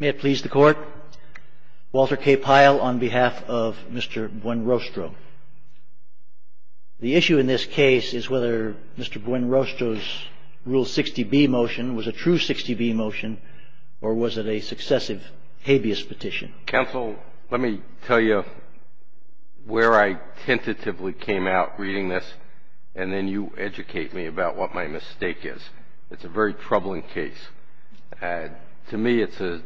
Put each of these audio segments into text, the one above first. May it please the court, Walter K. Pyle on behalf of Mr. Buen-Rostro. The issue in this case is whether Mr. Buen-Rostro's Rule 60B motion was a true 60B motion or was it a successive habeas petition. Counsel, let me tell you where I tentatively came out reading this and then you educate me about what my mistake is. It's a very troubling case. To me it's a,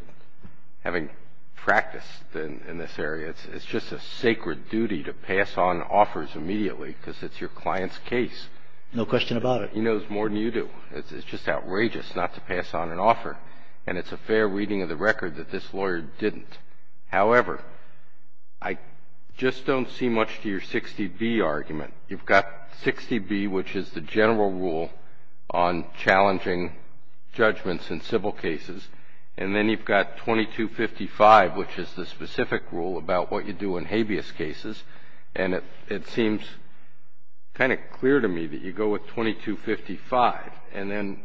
having practiced in this area, it's just a sacred duty to pass on offers immediately because it's your client's case. No question about it. He knows more than you do. It's just outrageous not to pass on an offer and it's a fair reading of the record that this lawyer didn't. However, I just don't see much to your 60B argument. You've got 60B, which is the general rule on challenging judgments in civil cases, and then you've got 2255, which is the specific rule about what you do in habeas cases, and it seems kind of clear to me that you go with 2255. And then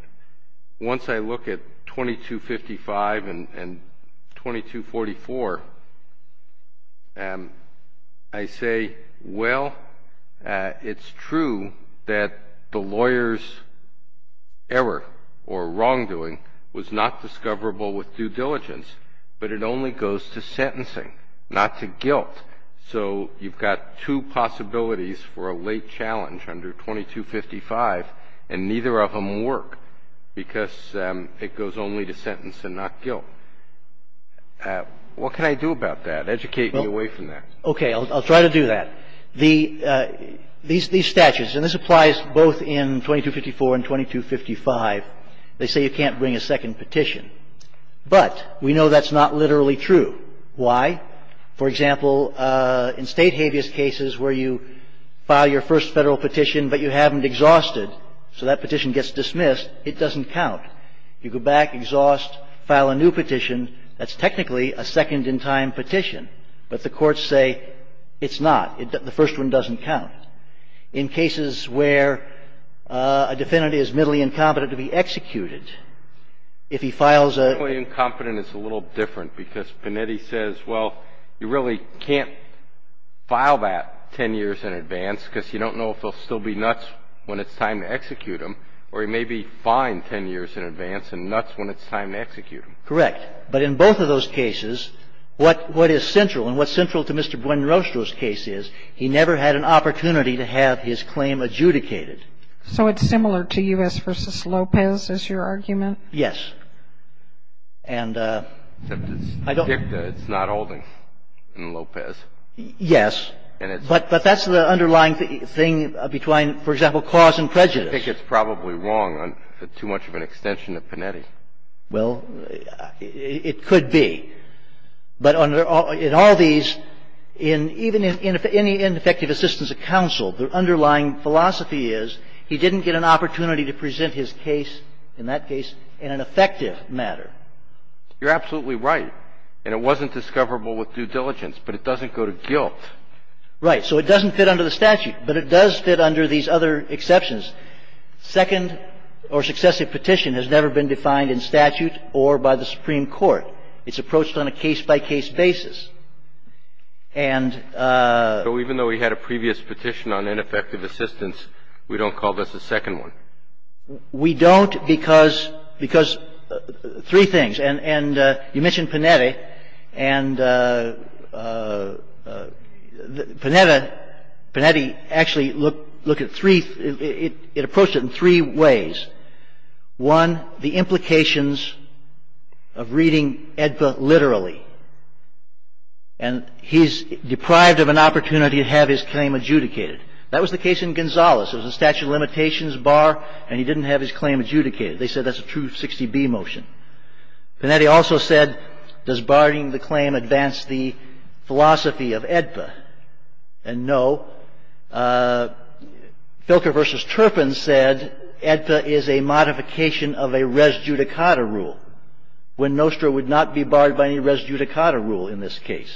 once I look at 2255 and 2244, I say, well, it's true that the lawyer's error or wrongdoing was not discoverable with due diligence, but it only goes to sentencing, not to guilt. So you've got two possibilities for a late challenge under 2255 and neither of them work, because it goes only to sentence and not guilt. What can I do about that? Educate me away from that. Okay. I'll try to do that. These statutes, and this applies both in 2254 and 2255, they say you can't bring a second petition. But we know that's not literally true. Why? For example, in State habeas cases where you file your first Federal petition, but you haven't exhausted, so that petition gets dismissed, it doesn't count. You go back, exhaust, file a new petition, that's technically a second-in-time petition, but the courts say it's not, the first one doesn't count. In cases where a defendant is middly incompetent to be executed, if he files a ---- Middly incompetent is a little different, because Panetti says, well, you really can't file that 10 years in advance, because you don't know if they'll still be nuts when it's time to execute him, or he may be fine 10 years in advance and nuts when it's time to execute him. Correct. But in both of those cases, what is central, and what's central to Mr. Buenrostro's case is, he never had an opportunity to have his claim adjudicated. So it's similar to U.S. v. Lopez is your argument? Yes. And I don't ---- It's not holding in Lopez. Yes. And it's ---- But that's the underlying thing between, for example, cause and prejudice. I think it's probably wrong on too much of an extension of Panetti. Well, it could be. But in all these, even in any ineffective assistance of counsel, the underlying philosophy is, he didn't get an opportunity to present his case, in that case, in an effective matter. You're absolutely right. And it wasn't discoverable with due diligence. But it doesn't go to guilt. Right. So it doesn't fit under the statute. But it does fit under these other exceptions. Second or successive petition has never been defined in statute or by the Supreme It's approached on a case-by-case basis. And ---- So even though we had a previous petition on ineffective assistance, we don't call this a second one? We don't because three things. And you mentioned Panetti. And Panetti actually looked at three ---- it approached it in three ways. One, the implications of reading AEDPA literally. And he's deprived of an opportunity to have his claim adjudicated. That was the case in Gonzales. It was a statute of limitations bar, and he didn't have his claim adjudicated. They said that's a 260B motion. Panetti also said, does barring the claim advance the philosophy of AEDPA? And no. Filker v. Turpin said, AEDPA is a modification of a res judicata rule. When Nostra would not be barred by any res judicata rule in this case.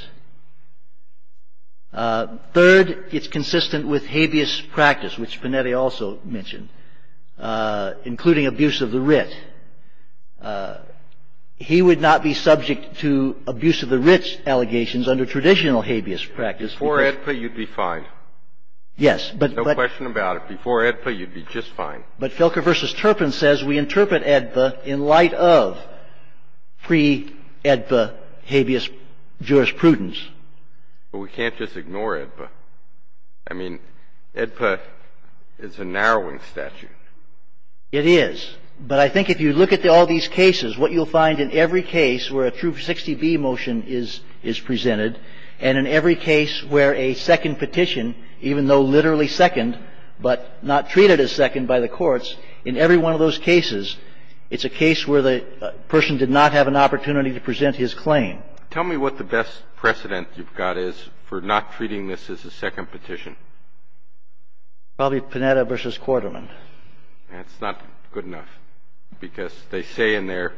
Third, it's consistent with habeas practice, which Panetti also mentioned, including abuse of the writ. He would not be subject to abuse of the writ allegations under traditional habeas practice. Before AEDPA, you'd be fine. Yes, but ---- No question about it. Before AEDPA, you'd be just fine. But Filker v. Turpin says we interpret AEDPA in light of pre-AEDPA habeas jurisprudence. But we can't just ignore AEDPA. I mean, AEDPA is a narrowing statute. It is. But I think if you look at all these cases, what you'll find in every case where a 260B motion is presented, and in every case where a second petition, even though literally second but not treated as second by the courts, in every one of those cases, it's a case where the person did not have an opportunity to present his claim. Tell me what the best precedent you've got is for not treating this as a second petition. Probably Panetta v. Quarterman. That's not good enough. Because they say in there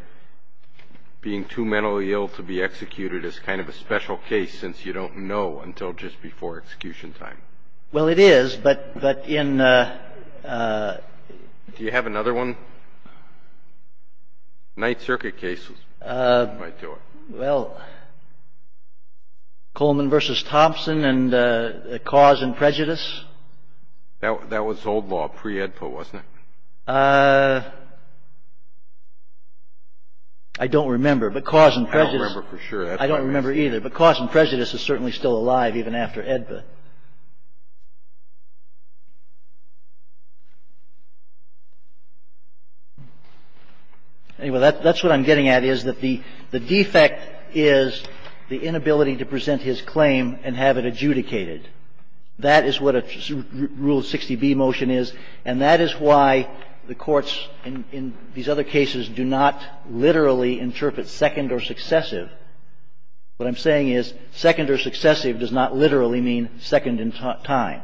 being too mentally ill to be executed is kind of a special case since you don't know until just before execution time. Well, it is, but in the ---- Do you have another one? Ninth Circuit cases. Well, Coleman v. Thompson and the cause in prejudice. That was old law, pre-AEDPA, wasn't it? I don't remember. But cause in prejudice ---- I don't remember for sure. I don't remember either. But cause in prejudice is certainly still alive even after AEDPA. Anyway, that's what I'm getting at is that the defect is the inability to present his claim and have it adjudicated. That is what a Rule 60B motion is, and that is why the courts in these other cases do not literally interpret second or successive. What I'm saying is second or successive does not literally mean second in time.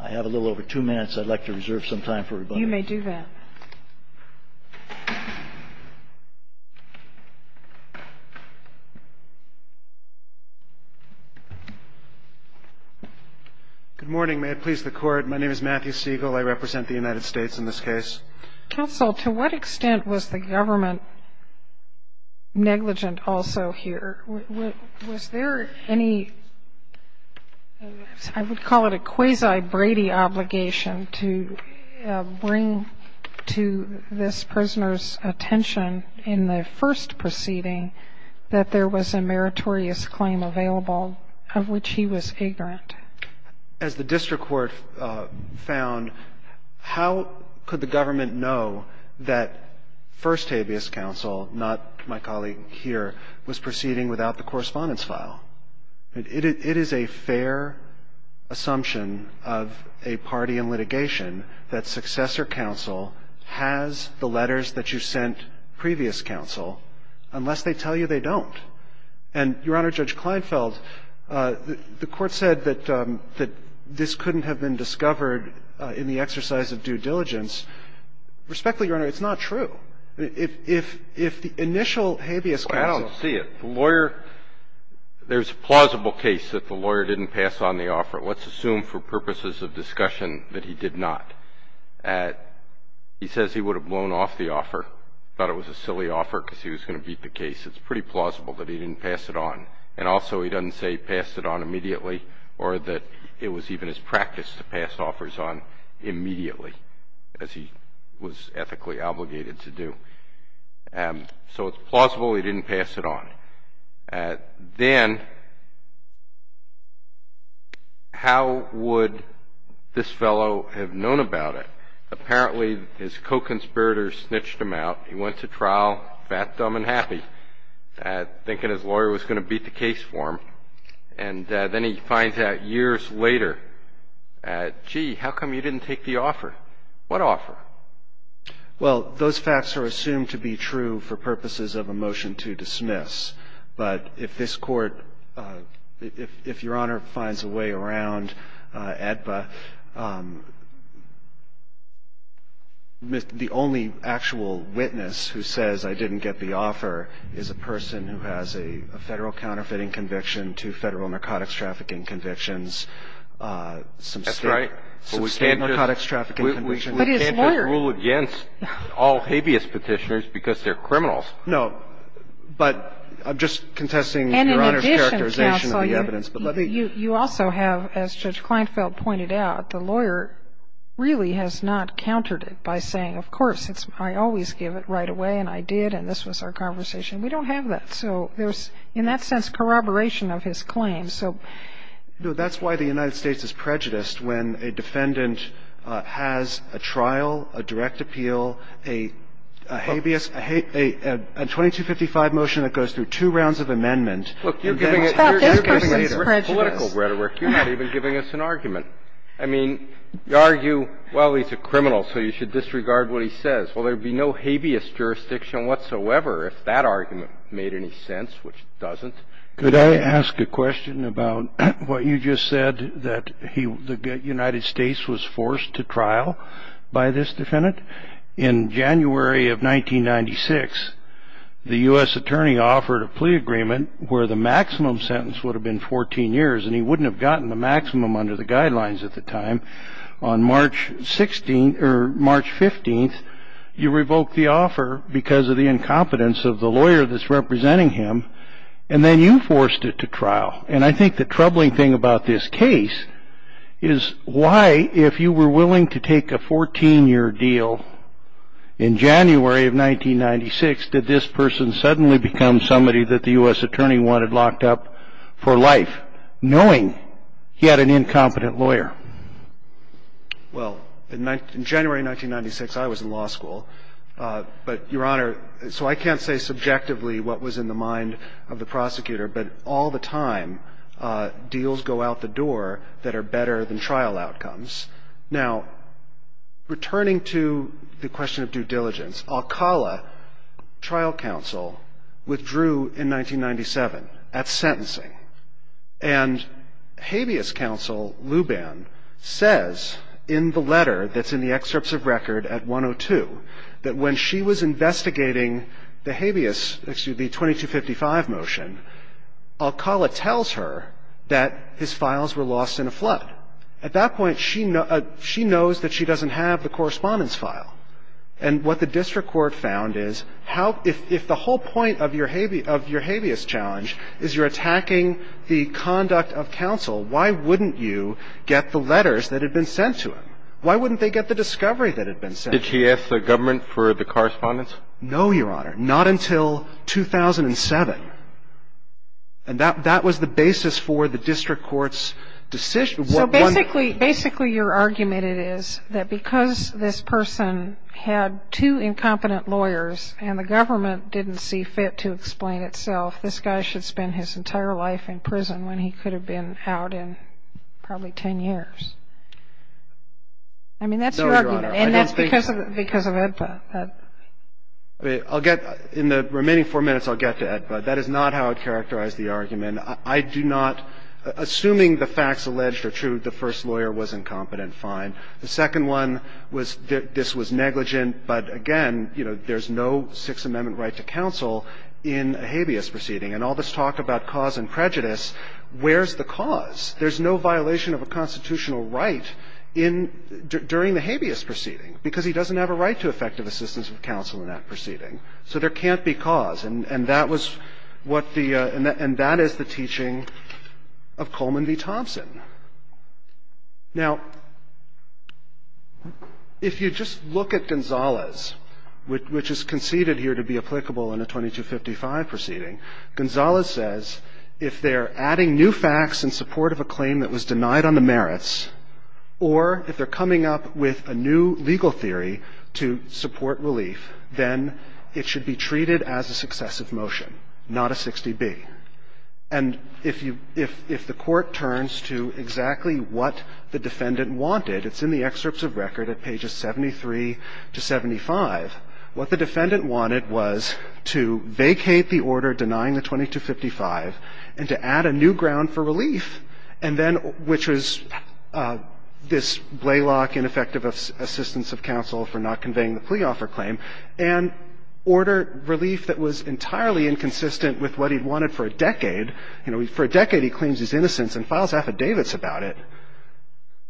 I have a little over two minutes. I'd like to reserve some time for rebuttal. You may do that. Good morning. May it please the Court. My name is Matthew Siegel. I represent the United States in this case. Counsel, to what extent was the government negligent also here? Was there any ---- I would call it a quasi-Brady obligation to bring a case to the Court to this prisoner's attention in the first proceeding that there was a meritorious claim available of which he was ignorant? As the district court found, how could the government know that first habeas counsel, not my colleague here, was proceeding without the correspondence file? It is a fair assumption of a party in litigation that successor counsel has the letters that you sent previous counsel, unless they tell you they don't. And, Your Honor, Judge Kleinfeld, the Court said that this couldn't have been discovered in the exercise of due diligence. Respectfully, Your Honor, it's not true. If the initial habeas counsel ---- Well, I don't see it. The lawyer ---- there's a plausible case that the lawyer didn't pass on the offer. Let's assume for purposes of discussion that he did not. He says he would have blown off the offer, thought it was a silly offer because he was going to beat the case. It's pretty plausible that he didn't pass it on. And also he doesn't say he passed it on immediately or that it was even his practice to pass offers on immediately, as he was ethically obligated to do. So it's plausible he didn't pass it on. Then how would this fellow have known about it? Apparently his co-conspirator snitched him out. He went to trial fat, dumb, and happy, thinking his lawyer was going to beat the case for him. And then he finds out years later, gee, how come you didn't take the offer? What offer? Well, those facts are assumed to be true for purposes of a motion to dismiss. But if this Court ---- if Your Honor finds a way around AEDPA, the only actual witness who says I didn't get the offer is a person who has a Federal counterfeiting conviction, two Federal narcotics trafficking convictions, some State narcotics trafficking convictions. And what I'm trying to say is that this is a case where you can't just rule against all habeas petitioners because they're criminals. No. But I'm just contesting Your Honor's characterization of the evidence. And in addition, counsel, you also have, as Judge Kleinfeld pointed out, the lawyer really has not countered it by saying, of course, I always give it right away, and I did, and this was our conversation. We don't have that. So there's, in that sense, corroboration of his claim. So ---- No. That's why the United States is prejudiced when a defendant has a trial, a direct appeal, a habeas, a 2255 motion that goes through two rounds of amendment. Look, you're giving us ---- It's not just because he's prejudiced. Political rhetoric. You're not even giving us an argument. I mean, you argue, well, he's a criminal, so you should disregard what he says. Well, there would be no habeas jurisdiction whatsoever if that argument made any sense, which it doesn't. Could I ask a question about what you just said, that the United States was forced to trial by this defendant? In January of 1996, the U.S. attorney offered a plea agreement where the maximum sentence would have been 14 years, and he wouldn't have gotten the maximum under the offer because of the incompetence of the lawyer that's representing him, and then you forced it to trial. And I think the troubling thing about this case is why, if you were willing to take a 14-year deal in January of 1996, did this person suddenly become somebody that the U.S. attorney wanted locked up for life, knowing he had an incompetent lawyer? Well, in January of 1996, I was in law school, but, Your Honor, so I can't say subjectively what was in the mind of the prosecutor, but all the time deals go out the door that are better than trial outcomes. Now, returning to the question of due diligence, Alcala trial counsel withdrew in 1997 at The district court says in the letter that's in the excerpts of record at 102 that when she was investigating the habeas, excuse me, 2255 motion, Alcala tells her that his files were lost in a flood. At that point, she knows that she doesn't have the correspondence file, and what the Why wouldn't they get the discovery that had been sent? Did she ask the government for the correspondence? No, Your Honor, not until 2007. And that was the basis for the district court's decision. So basically your argument is that because this person had two incompetent lawyers and the government didn't see fit to explain itself, this guy should spend his entire life in prison when he could have been out in probably ten years. I mean, that's your argument. And that's because of EDPA. I'll get, in the remaining four minutes I'll get to EDPA. That is not how I'd characterize the argument. I do not, assuming the facts alleged are true, the first lawyer was incompetent, fine. The second one was this was negligent, but again, you know, there's no Sixth Amendment right to counsel in a habeas proceeding. And all this talk about cause and prejudice, where's the cause? There's no violation of a constitutional right during the habeas proceeding, because he doesn't have a right to effective assistance of counsel in that proceeding. So there can't be cause. And that is the teaching of Coleman v. Thompson. Now, if you just look at Gonzalez, which is conceded here to be applicable in a 2255 proceeding, Gonzalez says if they're adding new facts in support of a claim that was denied on the merits or if they're coming up with a new legal theory to support relief, then it should be treated as a successive motion, not a 60B. And if you – if the Court turns to exactly what the defendant wanted, it's in the excerpts of record at pages 73 to 75, what the defendant wanted was to vacate the order denying the 2255 and to add a new ground for relief, and then – which was this Blaylock ineffective assistance of counsel for not conveying the plea offer claim – and order relief that was entirely inconsistent with what he'd wanted for a decade. You know, for a decade he claims his innocence and files affidavits about it.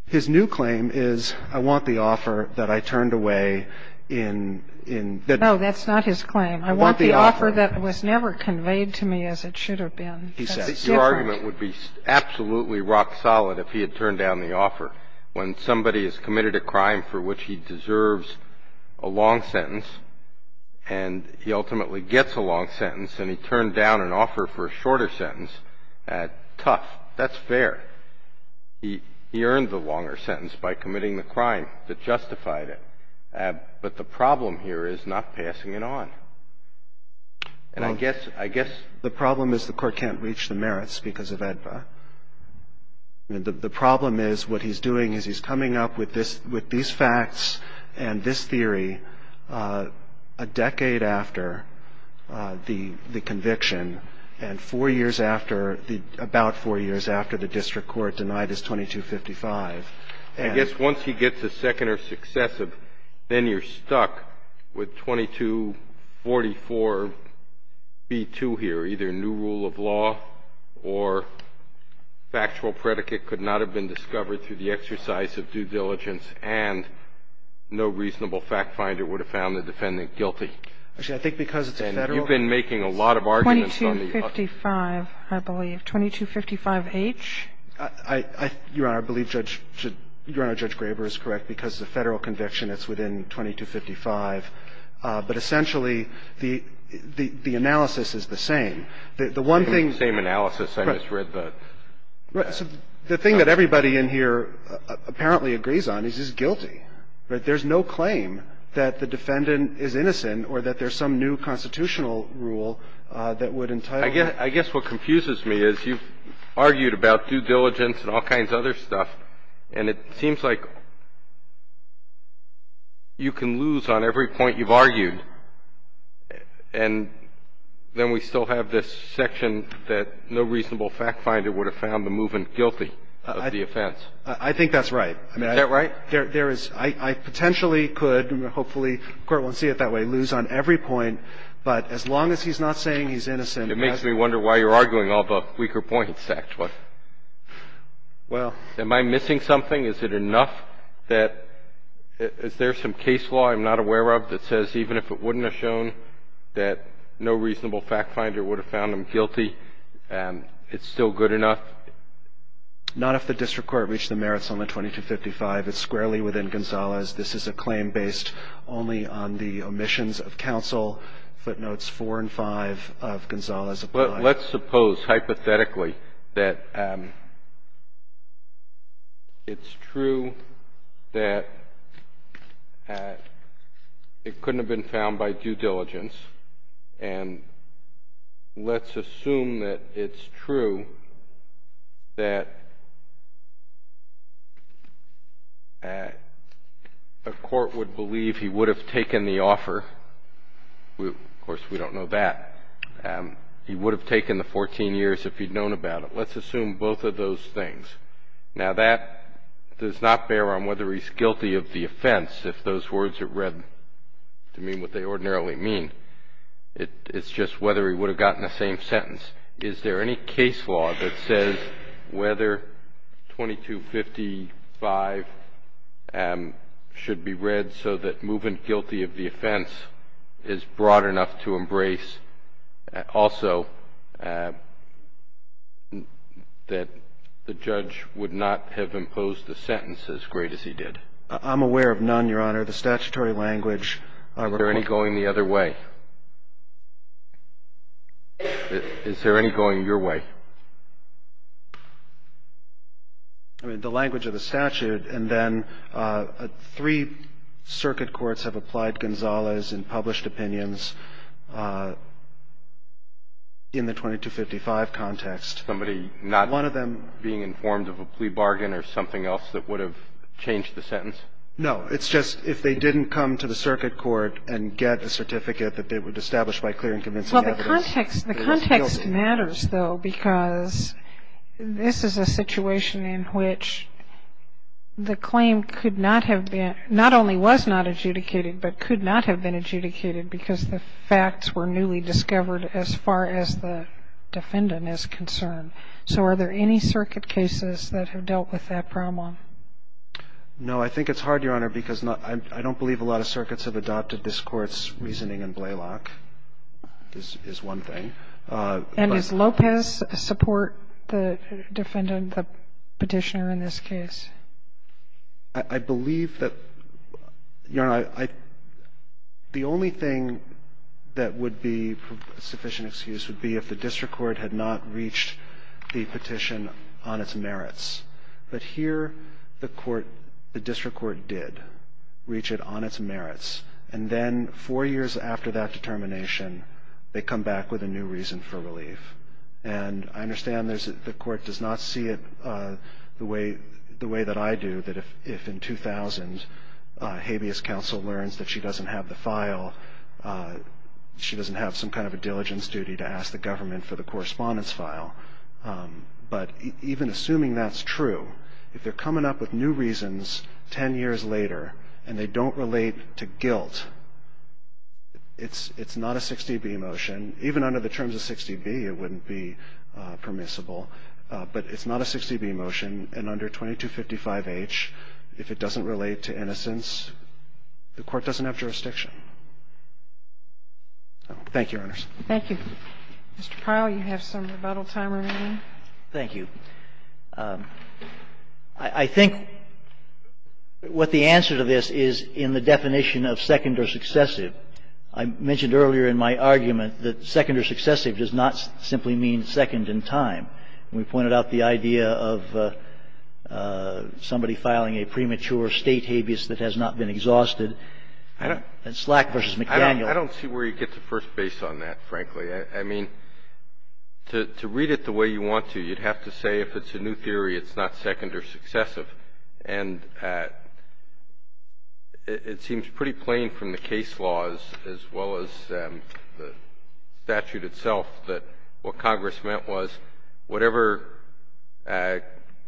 His new claim is, I want the offer that I turned away in – in that – No, that's not his claim. I want the offer. The offer that was never conveyed to me as it should have been. That's different. Your argument would be absolutely rock solid if he had turned down the offer. When somebody has committed a crime for which he deserves a long sentence and he ultimately gets a long sentence and he turned down an offer for a shorter sentence, tough, that's fair. He earned the longer sentence by committing the crime that justified it. But the problem here is not passing it on. And I guess – I guess – The problem is the court can't reach the merits because of AEDPA. The problem is what he's doing is he's coming up with this – with these facts and this theory a decade after the conviction and four years after the – about four years after the district court denied his 2255. I guess once he gets a second or successive, then you're stuck with 2244b2 here, either new rule of law or factual predicate could not have been discovered through the exercise of due diligence and no reasonable fact finder would have found the defendant guilty. Actually, I think because it's a Federal – And you've been making a lot of arguments on the – 2255, I believe. 2255H? I – Your Honor, I believe Judge – Your Honor, Judge Graber is correct because it's a Federal conviction. It's within 2255. But essentially, the – the analysis is the same. The one thing – Same analysis. I just read the – Right. So the thing that everybody in here apparently agrees on is he's guilty, right? There's no claim that the defendant is innocent or that there's some new constitutional rule that would entitle him – I guess – I guess what confuses me is you've argued about due diligence and all kinds of other stuff, and it seems like you can lose on every point you've argued, and then we still have this section that no reasonable fact finder would have found the movement guilty of the offense. I think that's right. Is that right? There is – I potentially could, and hopefully the Court won't see it that way, lose on every point. But as long as he's not saying he's innocent – It makes me wonder why you're arguing all the weaker points, actually. Well – Am I missing something? Is it enough that – is there some case law I'm not aware of that says even if it wouldn't have shown that no reasonable fact finder would have found him guilty, it's still good enough? Not if the district court reached the merits on the 2255. It's squarely within Gonzales. This is a claim based only on the omissions of counsel. Footnotes 4 and 5 of Gonzales apply. But let's suppose hypothetically that it's true that it couldn't have been found by A court would believe he would have taken the offer. Of course, we don't know that. He would have taken the 14 years if he'd known about it. Let's assume both of those things. Now, that does not bear on whether he's guilty of the offense, if those words are read to mean what they ordinarily mean. It's just whether he would have gotten the same sentence. Is there any case law that says whether 2255 should be read so that movement guilty of the offense is broad enough to embrace also that the judge would not have imposed the sentence as great as he did? I'm aware of none, Your Honor. The statutory language. Are there any going the other way? Is there any going your way? I mean, the language of the statute and then three circuit courts have applied Gonzales in published opinions in the 2255 context. Somebody not being informed of a plea bargain or something else that would have changed the sentence? No. It's just if they didn't come to the circuit court and get the certificate that they would have established by clear and convincing evidence. Well, the context matters, though, because this is a situation in which the claim could not have been, not only was not adjudicated, but could not have been adjudicated because the facts were newly discovered as far as the defendant is concerned. So are there any circuit cases that have dealt with that problem? No. I think it's hard, Your Honor, because I don't believe a lot of circuits have adopted this Court's reasoning in Blaylock. This is one thing. And does Lopez support the defendant, the Petitioner, in this case? I believe that, Your Honor, the only thing that would be a sufficient excuse would be if the district court had not reached the petition on its merits. But here, the district court did reach it on its merits. And then four years after that determination, they come back with a new reason for relief. And I understand the court does not see it the way that I do, that if in 2000, habeas counsel learns that she doesn't have the file, she doesn't have some kind of a diligence duty to ask the government for the correspondence file. But even assuming that's true, if they're coming up with new reasons 10 years later and they don't relate to guilt, it's not a 60B motion. Even under the terms of 60B, it wouldn't be permissible. But it's not a 60B motion. And under 2255H, if it doesn't relate to innocence, the court doesn't have jurisdiction. Thank you, Your Honors. Thank you. Mr. Pyle, you have some rebuttal time remaining. Thank you. I think what the answer to this is in the definition of second or successive. I mentioned earlier in my argument that second or successive does not simply mean second in time. We pointed out the idea of somebody filing a premature State habeas that has not been exhausted. I don't see where you get the first base on that, frankly. I mean, to read it the way you want to, you'd have to say if it's a new theory, it's not second or successive. And it seems pretty plain from the case laws as well as the statute itself that what Congress meant was whatever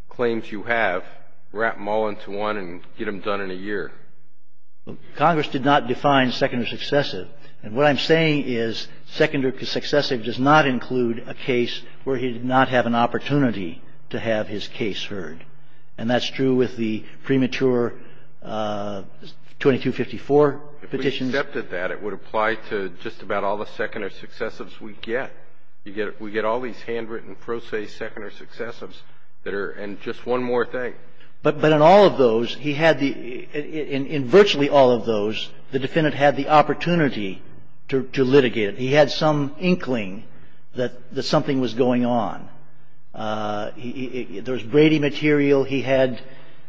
claims you have, wrap them all into one and get them done in a year. Congress did not define second or successive. And what I'm saying is second or successive does not include a case where he did not have an opportunity to have his case heard. And that's true with the premature 2254 petitions. If we accepted that, it would apply to just about all the second or successives we get. We get all these handwritten pro se second or successives that are just one more thing. But in all of those, he had the – in virtually all of those, the defendant had the opportunity to litigate it. He had some inkling that something was going on. There was Brady material. He had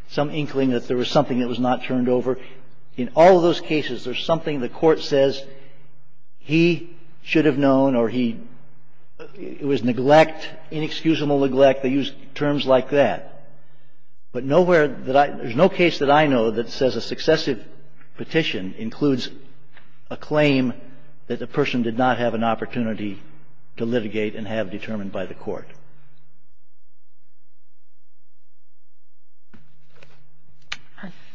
some inkling that there was something that was not turned over. In all of those cases, there's something the Court says he should have known or he – it was neglect, inexcusable neglect. They use terms like that. But nowhere that I – there's no case that I know that says a successive petition includes a claim that the person did not have an opportunity to litigate and have determined by the Court.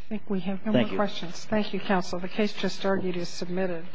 Thank you. Thank you, Counsel. The case just argued is submitted.